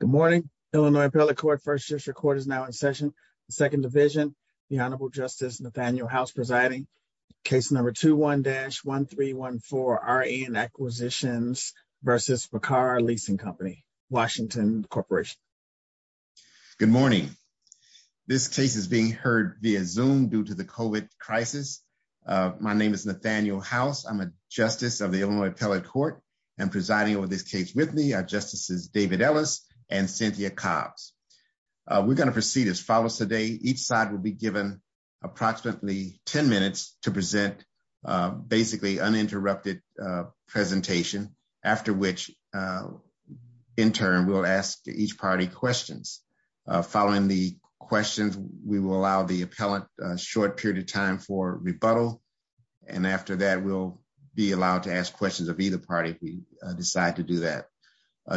Good morning, Illinois Appellate Court. First District Court is now in session. The Second Division, the Honorable Justice Nathaniel House presiding. Case number 21-1314, R.E.N. Acquisitions v. Paccar Leasing Company, Washington Corporation. Good morning. This case is being heard via Zoom due to the COVID crisis. My name is Nathaniel House. I'm a Justice of the Illinois Appellate Court. I'm presiding over this case with me. Justices David Ellis and Cynthia Cobbs. We're going to proceed as follows today. Each side will be given approximately 10 minutes to present basically uninterrupted presentation, after which in turn, we'll ask each party questions. Following the questions, we will allow the appellant a short period of time for rebuttal. And after that, we'll be allowed to ask questions of either party if we decide to do that.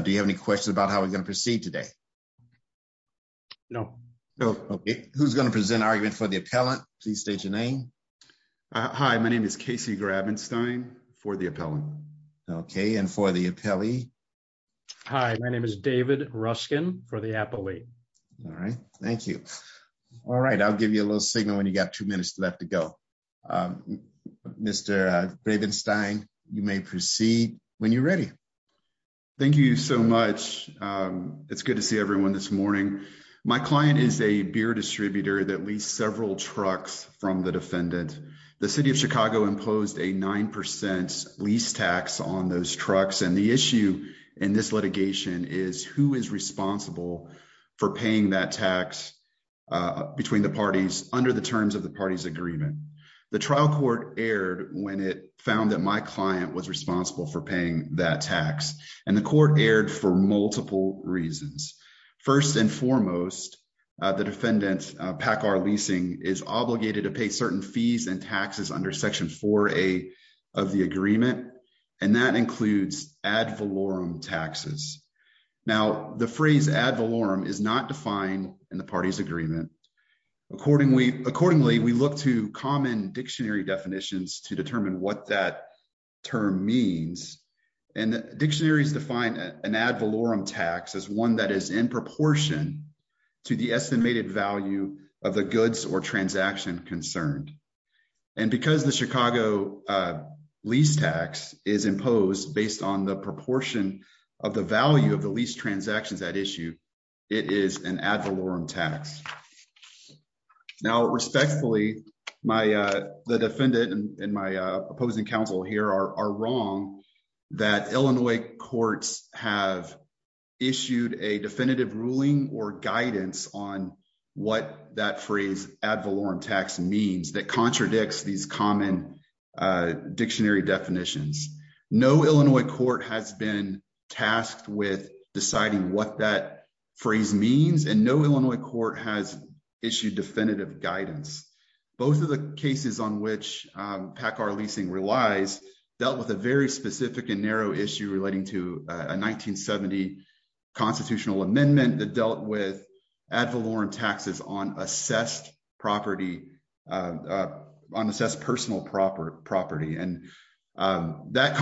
Do you have any questions about how we're going to proceed today? No. Okay. Who's going to present argument for the appellant? Please state your name. Hi, my name is Casey Grabenstein for the appellant. Okay. And for the appellee? Hi, my name is David Ruskin for the appellee. All right. Thank you. All right. I'll give you a little signal when you got two minutes left to go. Mr. Grabenstein, you may proceed when you're ready. Thank you so much. It's good to see everyone this morning. My client is a beer distributor that leased several trucks from the defendant. The city of Chicago imposed a 9% lease tax on those trucks. And the issue in this litigation is who is responsible for paying that tax between the parties under the terms of the party's agreement. The trial court erred when it found that my client was responsible for paying that tax. And the court erred for multiple reasons. First and foremost, the defendant PACCAR leasing is obligated to pay certain fees and taxes under Section 4A of the agreement. And that includes ad valorem taxes. Now, the phrase ad valorem is not defined in the party's agreement. Accordingly, we look to common dictionary definitions to determine what that term means. And dictionaries define an ad valorem tax as one that is in proportion to the estimated value of the goods or transaction concerned. And because the Chicago lease tax is imposed based on the proportion of the value of the lease transactions at issue, it is an ad valorem tax. Now, respectfully, the defendant and my opposing counsel here are wrong that Illinois courts have issued a definitive ruling or guidance on what that phrase ad valorem tax means that contradicts these common dictionary definitions. No Illinois court has been tasked with deciding what that phrase means. And no Illinois court has issued definitive guidance. Both of the cases on which PACCAR leasing relies dealt with a very specific and narrow issue relating to a 1970 constitutional amendment that dealt with ad valorem taxes on assessed property, on assessed personal property. And that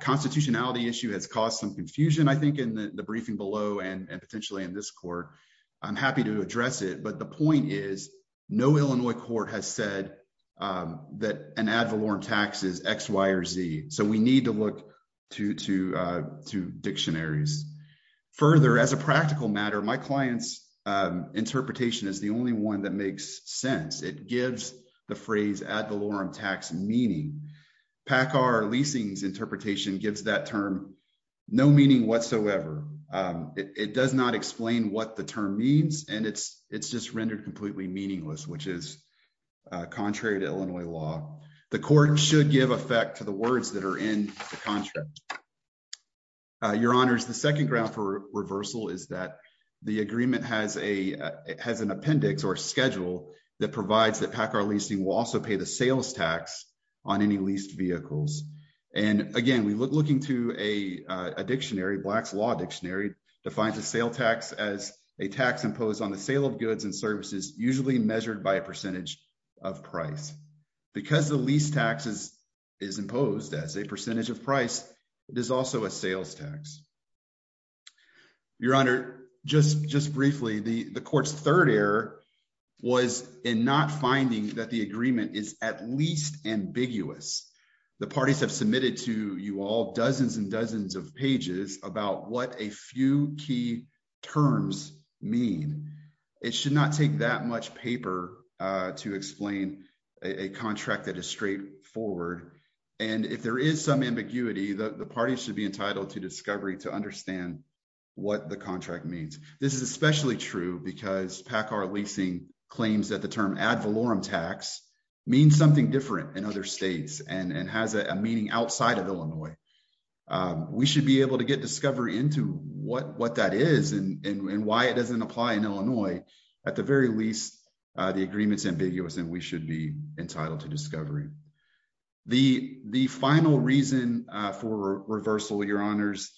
constitutionality issue has caused some confusion, I think, in the briefing below and potentially in this court. I'm happy to address it, but the point is, no Illinois court has said that an ad valorem tax is X, Y, or Z. So, we need to look to dictionaries. Further, as a practical matter, my client's interpretation is the only one that makes sense. It gives the phrase ad valorem tax meaning. PACCAR leasing's interpretation gives that term no meaning whatsoever. It does not explain what the term means, and it's just rendered completely meaningless, which is contrary to Illinois law. The court should give effect to the words that are in the contract. Your honors, the second ground for reversal is that the agreement has an appendix or schedule that provides that PACCAR leasing will also pay the sales tax on any leased vehicles. And again, we look looking to a dictionary, Black's Law Dictionary, defines a sale tax as a tax imposed on the sale of goods and services, usually measured by a percentage of price. Because the lease tax is imposed as a percentage of price, it is also a sales tax. Your honor, just briefly, the court's third error was in not finding that the agreement is at least ambiguous. The parties have submitted to you all dozens and dozens of what a few key terms mean. It should not take that much paper to explain a contract that is straightforward. And if there is some ambiguity, the party should be entitled to discovery to understand what the contract means. This is especially true because PACCAR leasing claims that the term ad valorem tax means something different in other states and has a meaning outside of Illinois. We should be able to get discovery into what that is and why it doesn't apply in Illinois. At the very least, the agreement's ambiguous and we should be entitled to discovery. The final reason for reversal, your honors,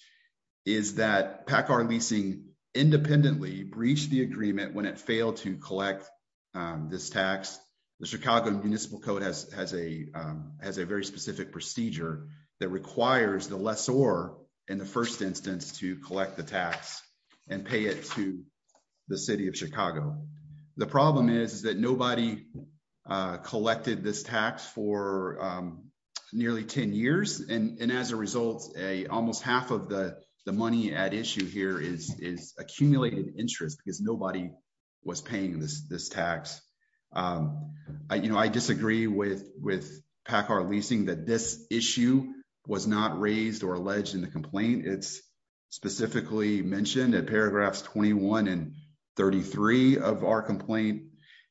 is that PACCAR leasing independently breached the agreement when it failed to collect this tax. The Chicago Municipal Code has a very procedure that requires the lessor in the first instance to collect the tax and pay it to the city of Chicago. The problem is that nobody collected this tax for nearly 10 years. And as a result, almost half of the money at issue here is accumulated interest because nobody was paying this tax. I disagree with PACCAR leasing that this issue was not raised or alleged in the complaint. It's specifically mentioned at paragraphs 21 and 33 of our complaint.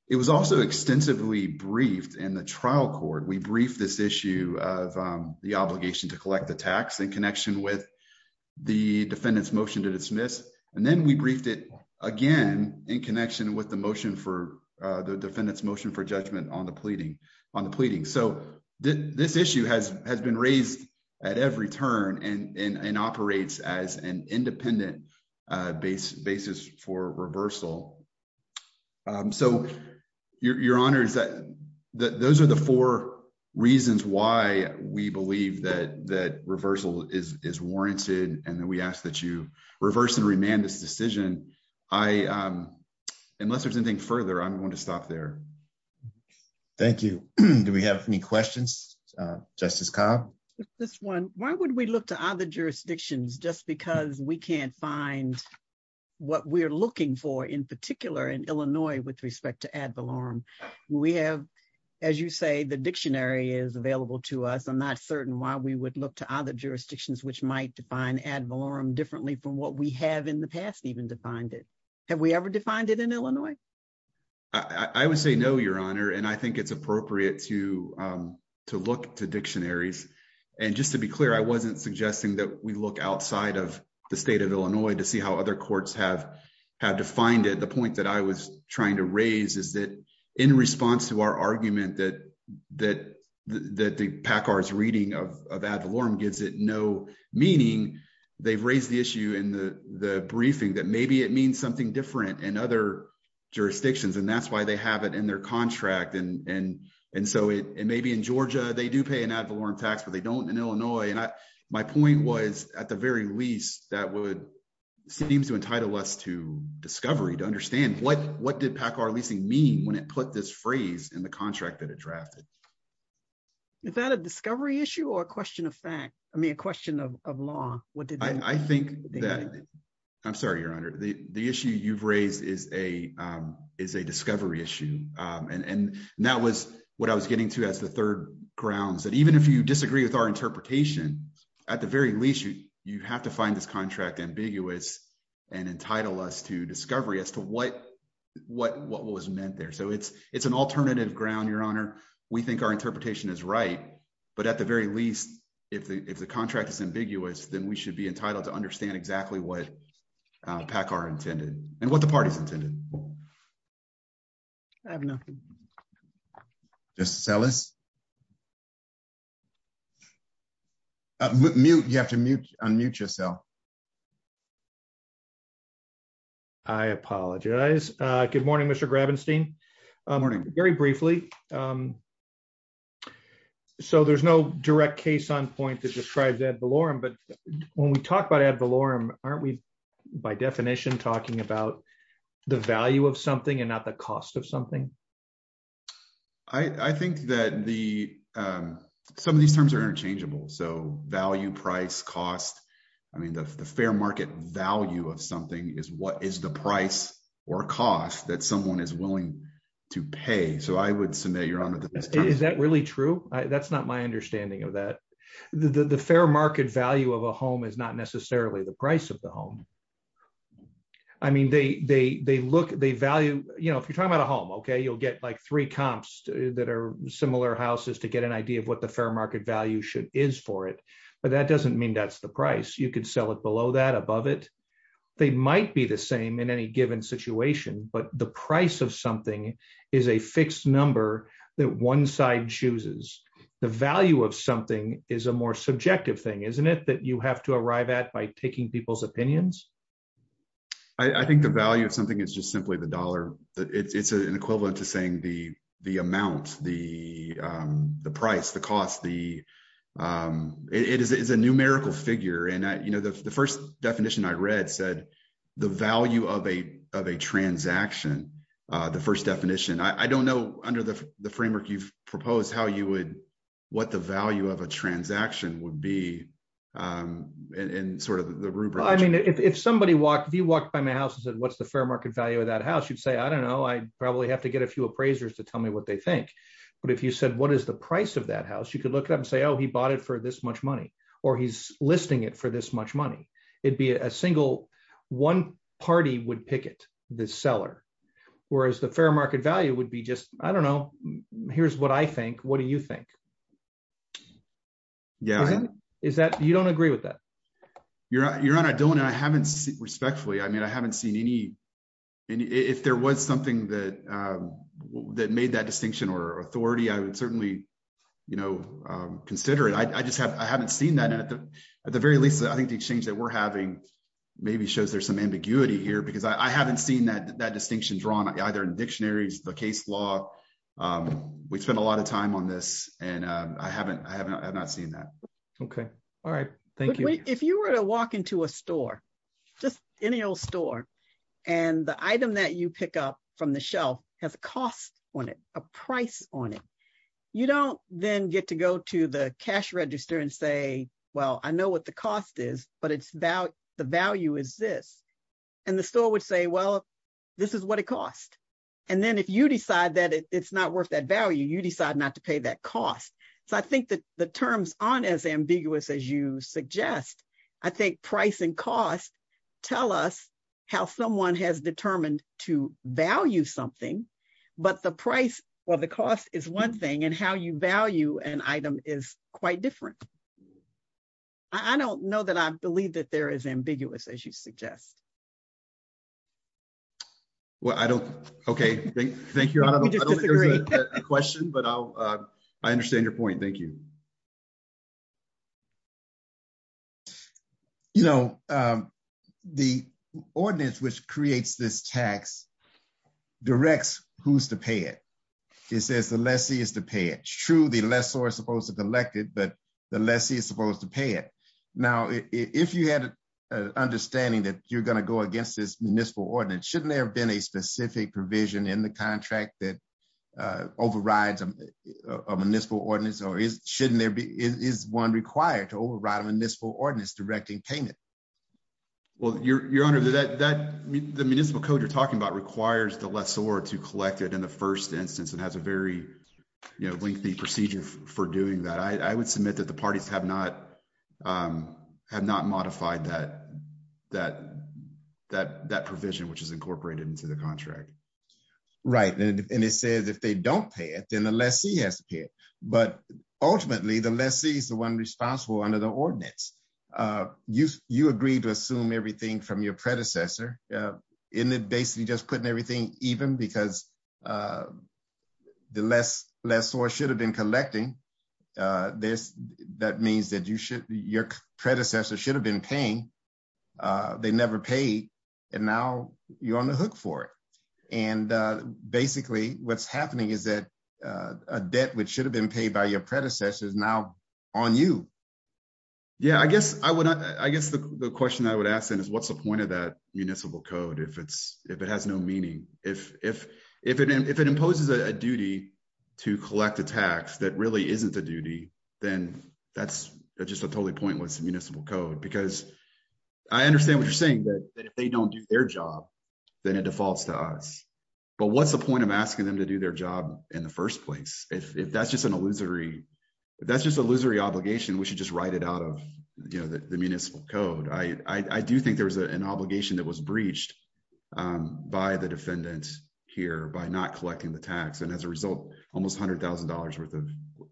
It was also extensively briefed in the trial court. We briefed this issue of the obligation to collect the tax in connection with the defendant's motion to dismiss. And then we with the motion for the defendant's motion for judgment on the pleading. So this issue has been raised at every turn and operates as an independent basis for reversal. So your honors, those are the four reasons why we believe that reversal is warranted and that we ask that you reverse and unless there's anything further, I'm going to stop there. Thank you. Do we have any questions? Justice Cobb? Why would we look to other jurisdictions just because we can't find what we're looking for in particular in Illinois with respect to ad valorem? We have, as you say, the dictionary is available to us. I'm not certain why we would look to other jurisdictions which might define ad valorem differently from what we have in the past even defined it. Have we ever defined it in Illinois? I would say no, your honor. And I think it's appropriate to look to dictionaries. And just to be clear, I wasn't suggesting that we look outside of the state of Illinois to see how other courts have defined it. The point that I was trying to raise is that in response to our argument that the PACCAR's reading of ad valorem gives it no meaning, they've raised the issue in the briefing that maybe it means something different in other jurisdictions and that's why they have it in their contract. And so it may be in Georgia they do pay an ad valorem tax but they don't in Illinois. And my point was at the very least that would seem to entitle us to discovery, to understand what did PACCAR leasing mean when it put this phrase in the contract that it drafted. Is that a discovery issue or a question of fact? I mean a question of law. I think that, I'm sorry your honor, the issue you've raised is a discovery issue. And that was what I was getting to as the third grounds that even if you disagree with our interpretation, at the very least you have to find this contract ambiguous and entitle us to discovery as to what was meant there. So it's an alternative ground your honor. We think our interpretation is right, but at the very least if the contract is ambiguous then we should be entitled to understand exactly what PACCAR intended and what the parties intended. I have nothing. Justice Ellis? Mute, you have to unmute yourself. I apologize. Good morning Mr. Grabenstein. Good morning. Very briefly, so there's no direct case on point that describes ad valorem, but when we talk about ad valorem, aren't we by definition talking about the value of something and not the cost of something? I think that some of these terms are interchangeable. So value, price, cost, I mean the fair market value of something is what is the price or cost that someone is willing to pay. So I would submit your honor that- Is that really true? That's not my understanding of that. The fair market value of a home is not necessarily the price of the home. I mean they look, they value, you know, if you're talking about a home, okay, you'll get like three comps that are similar houses to get an idea of what the fair market value should is for it. But that doesn't mean that's the price. You could sell it below that, above it. They might be the same in any given situation, but the price of something is a fixed number that one side chooses. The value of something is a more subjective thing, isn't it, that you have to arrive at by taking people's opinions? I think the value of something is just simply the numerical figure. And the first definition I read said the value of a transaction, the first definition. I don't know under the framework you've proposed how you would, what the value of a transaction would be and sort of the rubric. I mean, if somebody walked, if you walked by my house and said, what's the fair market value of that house? You'd say, I don't know, I probably have to get a few appraisers to tell me what they think. But if you said, what is the price of that house? You could look it up and say, oh, he bought it for this much money, or he's listing it for this much money. It'd be a single, one party would picket the seller. Whereas the fair market value would be just, I don't know, here's what I think, what do you think? You don't agree with that? Your Honor, I don't, and I haven't, respectfully, I mean, I haven't seen any, and if there was something that made that distinction or authority, I would certainly consider it. I just have, I haven't seen that. And at the very least, I think the exchange that we're having maybe shows there's some ambiguity here because I haven't seen that distinction drawn either in dictionaries, the case law. We spend a lot of time on this and I haven't, I have not seen that. Okay. All right. Thank you. If you were to walk into a store, just any old store, and the item that you pick up from the shelf has a cost on it, a price on it, you don't then get to go to the cash register and say, well, I know what the cost is, but it's the value is this. And the store would say, well, this is what it costs. And then if you decide that it's not worth that value, you decide not to pay that cost. So I think that the terms aren't as ambiguous as you suggest. I think price and cost tell us how someone has determined to value something, but the price or the cost is one thing and how you value an item is quite different. I don't know that I believe that there is ambiguous as you suggest. Well, I don't, okay. Thank you. I don't think there's a question, but I'll, I understand your point. Thank you. You know, the ordinance which creates this tax directs who's to pay it. It says the lessee is to pay it. It's true the lessor is supposed to collect it, but the lessee is supposed to pay it. Now, if you had an understanding that you're going to go against this municipal ordinance, shouldn't there have been a specific provision in the contract that overrides a municipal ordinance or is one required to override a municipal ordinance directing payment? Well, your honor, the municipal code you're talking about requires the lessor to collect it in the first instance. It has a very lengthy procedure for doing that. I would submit that the parties have not modified that provision, which is incorporated into the contract. Right. And it says if they don't pay it, then the lessee has to pay it. But ultimately, the lessee is the one responsible under the ordinance. You agreed to assume everything from your predecessor in that basically just putting everything even because the lessor should have been collecting. That means that your predecessor should have been paying. They never paid, and now you're on the hook for it. And basically, what's happening is that a debt which should have been paid by your predecessor is now on you. Yeah, I guess the question I would ask then is what's the point of that municipal code if it has no meaning? If it imposes a duty to collect a tax that really isn't a duty, then that's just totally pointless municipal code. Because I understand what you're saying, that if they don't do their job, then it defaults to us. But what's the point of asking them to do their job in the first place? If that's just an illusory obligation, we should just write it out of the municipal code. I do think there was an obligation that was breached by the defendant here by not collecting the tax. And as a result, almost $100,000 worth of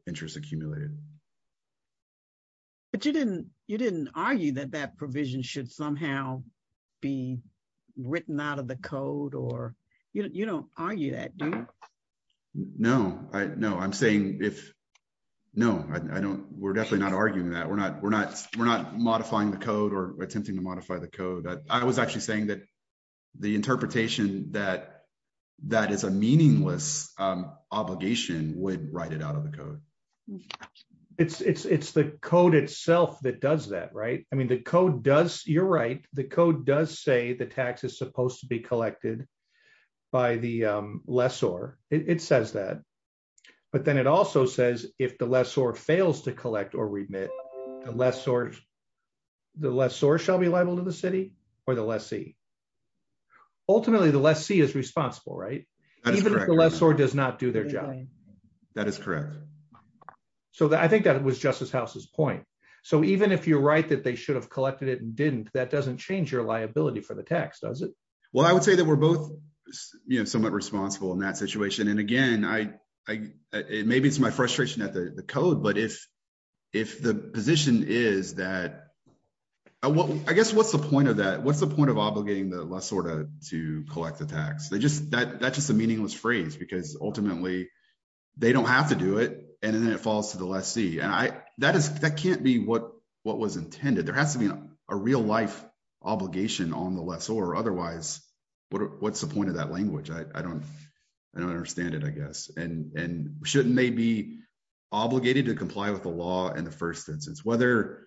interest accumulated. You didn't argue that that provision should somehow be written out of the code? You don't argue that, do you? No. We're definitely not arguing that. We're not modifying the code or attempting to modify the code. I was actually saying that the interpretation that that is a meaningless obligation would write it out of the code. It's the code itself that does that, right? I mean, you're right. The code does say the tax is supposed to be collected by the lessor. It says that. But then it also says if the lessor fails to collect or remit, the lessor shall be liable to the city or the lessee. Ultimately, the lessee is responsible, right? Even if the lessor does not do their job. That is correct. So I think that was Justice House's point. So even if you're right that they should have collected it and didn't, that doesn't change your liability for the tax, does it? Well, I would say that we're both somewhat responsible in that situation. And again, maybe it's my frustration at the code, but if the position is that... I guess what's the point of that? What's the point of obligating the they don't have to do it, and then it falls to the lessee. And that can't be what was intended. There has to be a real life obligation on the lessor. Otherwise, what's the point of that language? I don't understand it, I guess. And shouldn't they be obligated to comply with the law in the first instance? Whether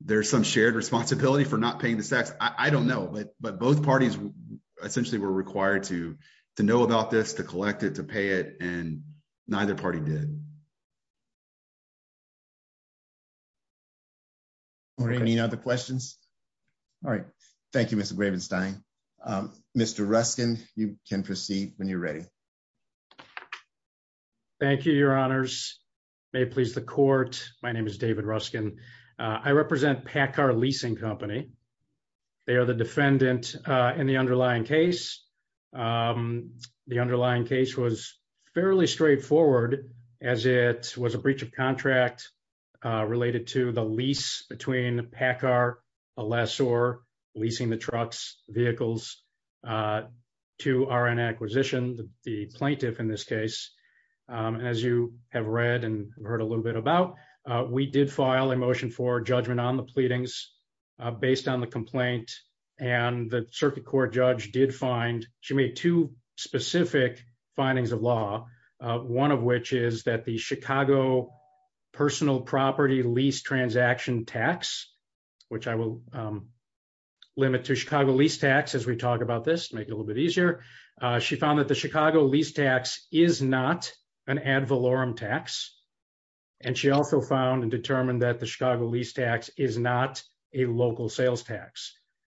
there's some shared responsibility for not paying the tax, I don't know. But both parties essentially were required to know about this, to collect it, to pay it, and neither party did. Any other questions? All right. Thank you, Mr. Gravenstein. Mr. Ruskin, you can proceed when you're ready. Thank you, Your Honors. May it please the court. My name is David Ruskin. I represent PACCAR Leasing Company. They are the defendant in the underlying case. The underlying case was fairly straightforward as it was a breach of contract related to the lease between PACCAR, a lessor, leasing the truck's vehicles to our an acquisition, the plaintiff in this case. As you have read and heard a little bit about, we did file a motion for judgment on the pleadings based on the complaint and the court judge did find, she made two specific findings of law, one of which is that the Chicago personal property lease transaction tax, which I will limit to Chicago lease tax as we talk about this to make it a little bit easier. She found that the Chicago lease tax is not an ad valorem tax and she also found and determined that the Chicago lease tax is not a local sales tax.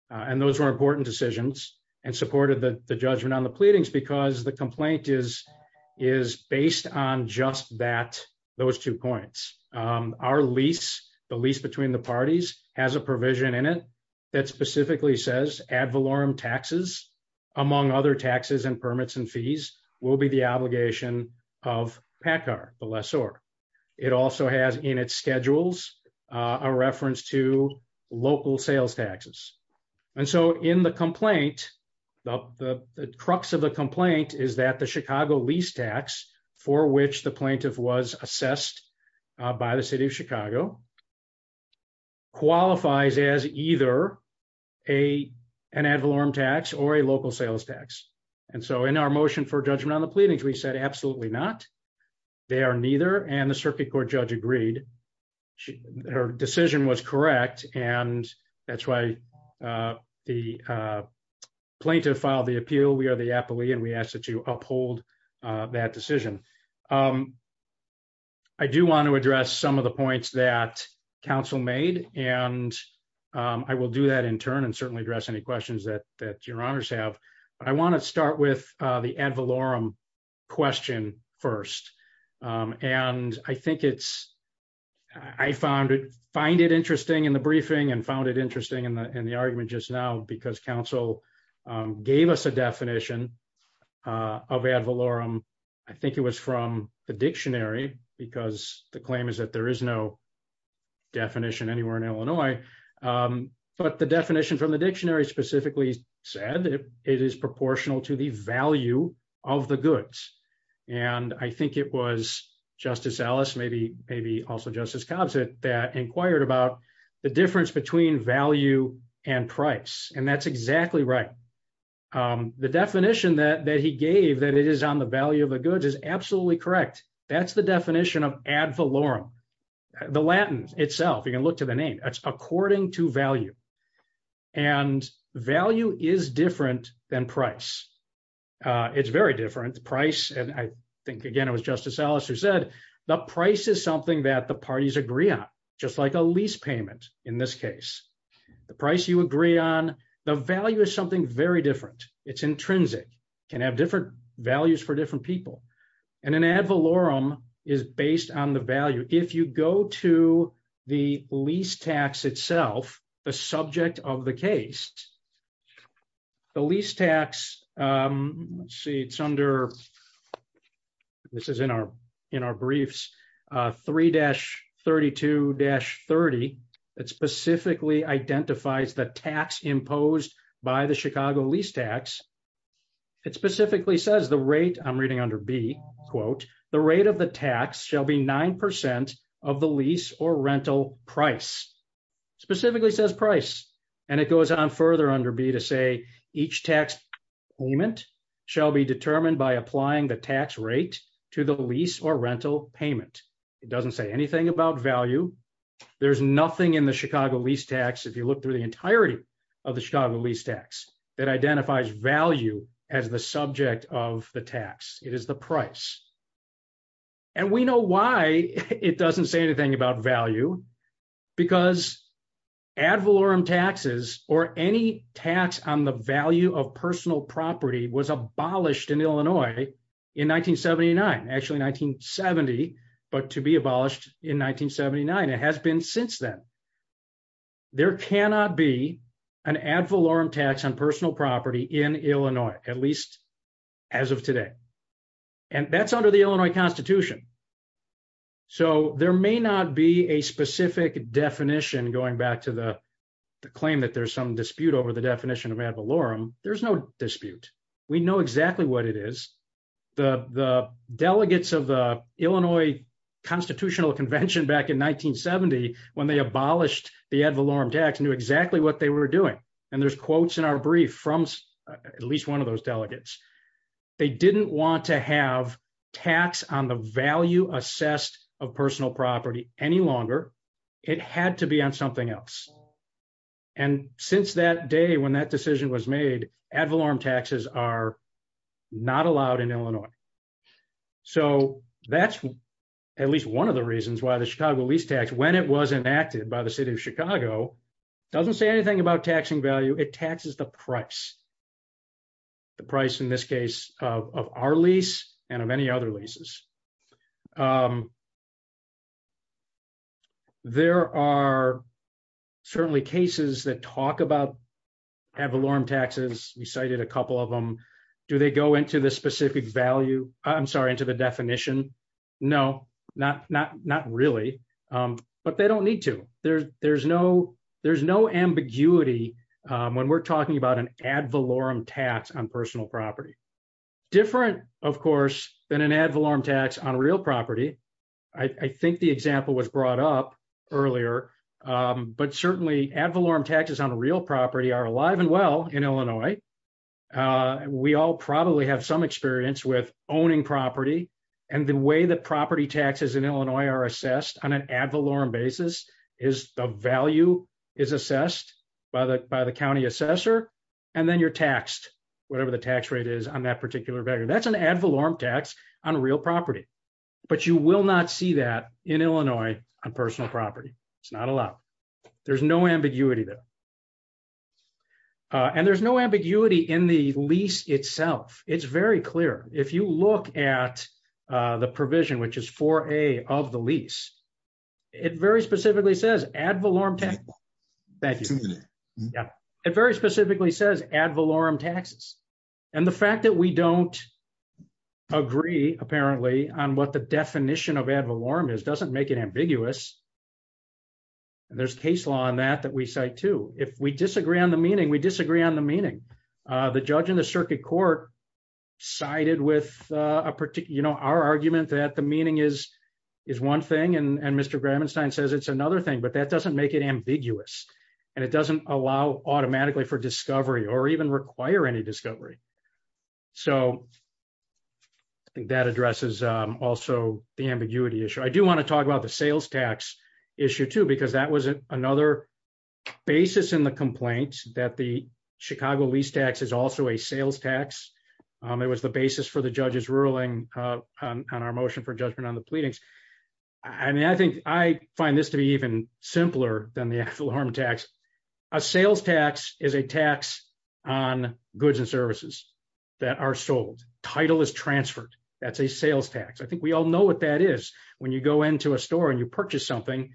And those were important decisions and supported the judgment on the pleadings because the complaint is based on just that, those two points. Our lease, the lease between the parties has a provision in it that specifically says ad valorem taxes among other taxes and permits and fees will be the obligation of PACCAR, the lessor. It also has in its schedules a reference to and so in the complaint, the crux of the complaint is that the Chicago lease tax for which the plaintiff was assessed by the city of Chicago qualifies as either an ad valorem tax or a local sales tax. And so in our motion for judgment on the pleadings, we said absolutely not, they are neither and the circuit court judge agreed. She, her decision was correct and that's why the plaintiff filed the appeal. We are the appellee and we ask that you uphold that decision. I do want to address some of the points that council made and I will do that in turn and certainly address any questions that your ad valorem question first. And I think it's, I found it, find it interesting in the briefing and found it interesting in the argument just now because council gave us a definition of ad valorem. I think it was from the dictionary because the claim is that there is no definition anywhere in Illinois, but the definition from the dictionary specifically said that it is proportional to the value of the goods. And I think it was Justice Ellis, maybe, maybe also Justice Cobb said that inquired about the difference between value and price and that's exactly right. The definition that he gave that it is on the value of the goods is absolutely correct. That's the definition of ad valorem. The Latin itself, you can look to the name, it's according to value and value is different than price. It's very different. The price, and I think again, it was Justice Ellis who said the price is something that the parties agree on, just like a lease payment in this case. The price you agree on, the value is something very different. It's intrinsic, can have different values for different people. And an ad valorem is based on the value. If you go to the lease tax itself, the subject of the case, the lease tax, let's see, it's under, this is in our briefs, 3-32-30 that specifically identifies the tax imposed by the Chicago lease tax. It specifically says the rate, I'm reading under B, quote, the rate of the tax shall be 9% of the lease or rental price. Specifically says price. And it goes on further under B to say each tax payment shall be determined by applying the tax rate to the lease or rental payment. It doesn't say anything about value. There's nothing in the Chicago lease tax, if you look through the entirety of the Chicago lease tax, that identifies value as the subject of the tax. It is the price. And we know why it doesn't say anything about value, because ad valorem taxes or any tax on the value of personal property was abolished in Illinois in 1979, actually 1970, but to be abolished in 1979. It has been since then. There cannot be an ad valorem tax on personal property in Illinois, at least as of today. And that's under the Illinois Constitution. So there may not be a specific definition, going back to the claim that there's some dispute over the definition of ad valorem. There's no dispute. We know exactly what it is. The delegates of the Illinois Constitutional the ad valorem tax knew exactly what they were doing. And there's quotes in our brief from at least one of those delegates. They didn't want to have tax on the value assessed of personal property any longer. It had to be on something else. And since that day, when that decision was made, ad valorem taxes are not allowed in Illinois. So that's at least one of the reasons why the Chicago lease tax, when it was enacted by the city of Chicago, doesn't say anything about taxing value. It taxes the price. The price in this case of our lease and of any other leases. There are certainly cases that talk about ad valorem taxes. We cited a couple of them. Do they go into the specific value? I'm sorry, into the definition? No, not really. But they don't need to. There's no ambiguity when we're talking about an ad valorem tax on personal property. Different, of course, than an ad valorem tax on real property. I think the example was brought up earlier. But certainly ad valorem taxes on real property are alive and well in Illinois. We all probably have some experience with owning property. And the way that property taxes in Illinois are assessed on an ad valorem basis is the value is assessed by the county assessor. And then you're taxed, whatever the tax rate is on that particular value. That's an ad valorem tax on real property. But you will not see that in Illinois on personal property. It's not allowed. There's no ambiguity there. And there's no ambiguity in the lease itself. It's very clear. If you look at the provision, which is 4A of the lease, it very specifically says ad valorem taxes. And the fact that we don't agree, apparently, on what the definition of ad valorem is doesn't make it ambiguous. And there's case law on that that we cite too. If we disagree on the meaning, we disagree on the meaning. The judge in the circuit court sided with our argument that the meaning is one thing. And Mr. Gramenstein says it's another thing. But that doesn't make it ambiguous. And it doesn't allow automatically for discovery or even require any discovery. So I think that sales tax issue too, because that was another basis in the complaint that the Chicago lease tax is also a sales tax. It was the basis for the judge's ruling on our motion for judgment on the pleadings. I mean, I think I find this to be even simpler than the ad valorem tax. A sales tax is a tax on goods and services that are sold. Title is transferred. That's a sales tax. I think we all know what that is when you go into a store and you purchase something.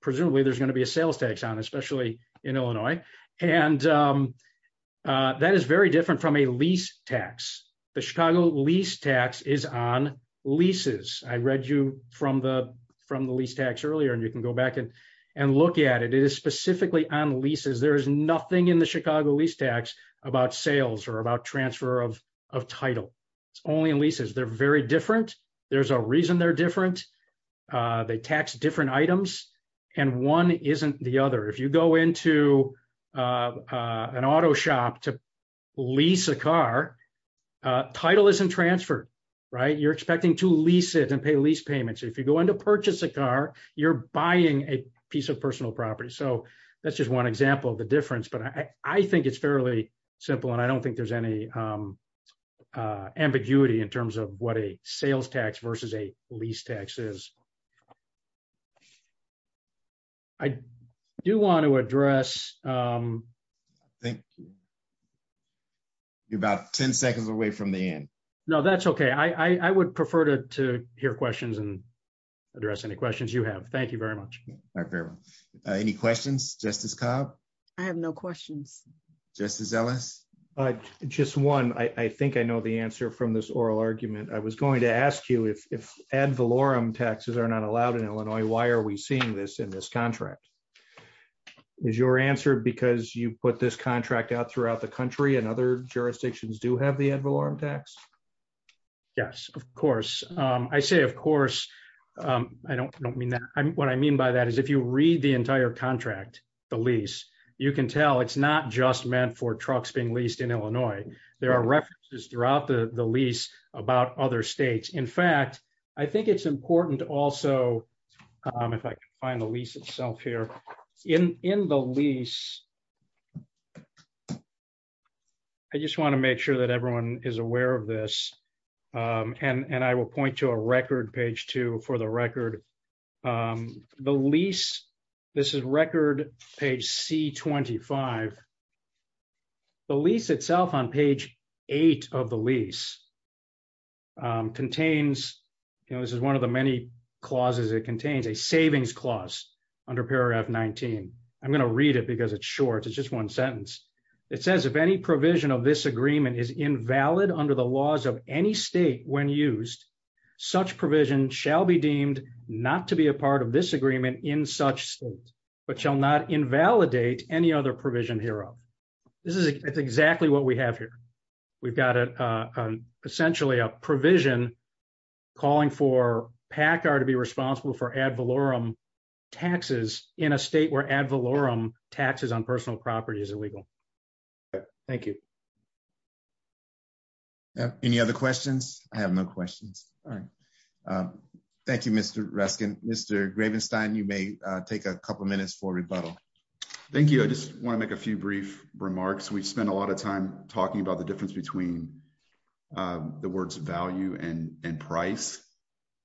Presumably, there's going to be a sales tax on, especially in Illinois. And that is very different from a lease tax. The Chicago lease tax is on leases. I read you from the lease tax earlier. And you can go back and look at it. It is specifically on leases. There is nothing in the Chicago lease tax about sales or about transfer of title. It's only in leases. They're very different. There's a reason they're different. They tax different items. And one isn't the other. If you go into an auto shop to lease a car, title isn't transferred. You're expecting to lease it and pay lease payments. If you go into purchase a car, you're buying a piece of personal property. So that's just one example of the simple. And I don't think there's any ambiguity in terms of what a sales tax versus a lease tax is. I do want to address... Thank you. You're about 10 seconds away from the end. No, that's okay. I would prefer to hear questions and address any questions you have. Thank you very much. All right. Any questions? Justice Cobb? I have no questions. Justice Ellis? Just one. I think I know the answer from this oral argument. I was going to ask you if ad valorem taxes are not allowed in Illinois, why are we seeing this in this contract? Is your answer because you put this contract out throughout the country and other jurisdictions do have the ad valorem tax? Yes, of course. I say of course. I don't mean that. What I mean by that is you read the entire contract, the lease, you can tell it's not just meant for trucks being leased in Illinois. There are references throughout the lease about other states. In fact, I think it's important also, if I can find the lease itself here. In the lease, I just want to make sure everyone is aware of this. I will point to a record, page 2 for the record. The lease, this is record, page C25. The lease itself on page 8 of the lease contains, this is one of the many clauses it contains, a savings clause under paragraph 19. I'm going to read it because it's short. It's just one sentence. It says, if any provision of this agreement is invalid under the laws of any state when used, such provision shall be deemed not to be a part of this agreement in such state, but shall not invalidate any other provision hereof. This is exactly what we have here. We've got essentially a provision calling for PACCAR to be responsible for ad valorem taxes in a state where ad valorem taxes on personal property is illegal. Thank you. Any other questions? I have no questions. All right. Thank you, Mr. Reskin. Mr. Gravenstein, you may take a couple minutes for rebuttal. Thank you. I just want to make a few brief remarks. We've spent a lot of time talking about the difference between the words value and price.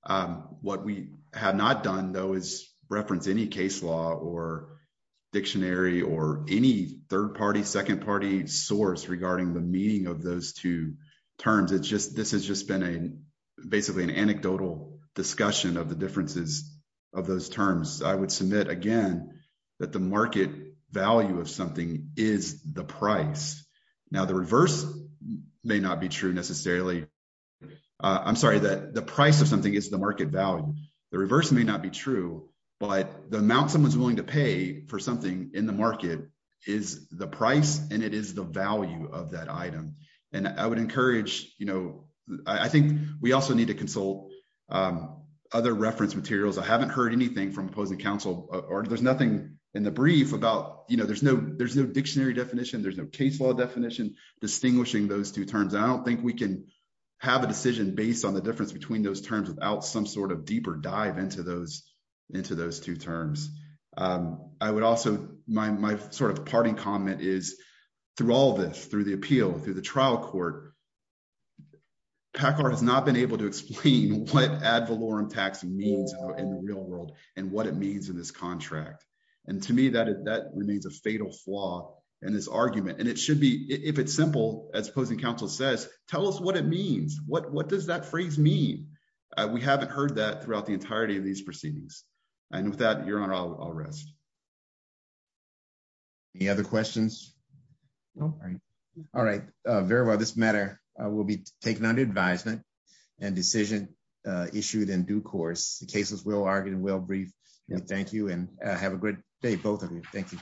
What we have not done, though, is reference any case law or dictionary or any third-party, second-party source regarding the meaning of those two terms. This has just been basically an anecdotal discussion of the differences of those terms. I would submit, again, that the market value of something is the price. Now, the reverse may not be true necessarily. I'm sorry. The price of something is the market value. The reverse may not be true, but the amount someone's willing to pay for something in the market is the price, and it is the value of that item. I would encourage... I think we also need to consult other reference materials. I haven't heard anything from opposing counsel, or there's nothing in the brief about... There's no dictionary definition. There's no case law definition distinguishing those two terms. I don't think we can have a decision based on the difference between those terms without some sort of deeper dive into those two terms. I would also... My parting comment is through all this, through the appeal, through the trial court, Packard has not been able to explain what ad valorem taxing means in the real world and what means in this contract. To me, that remains a fatal flaw in this argument. It should be... If it's simple, as opposing counsel says, tell us what it means. What does that phrase mean? We haven't heard that throughout the entirety of these proceedings. With that, Your Honor, I'll rest. Any other questions? No? All right. Very well. This matter will be taken under advisement and decision issued in due course. The case is well-argued and well-briefed. Thank you, and have a great day, both of you. Thank you.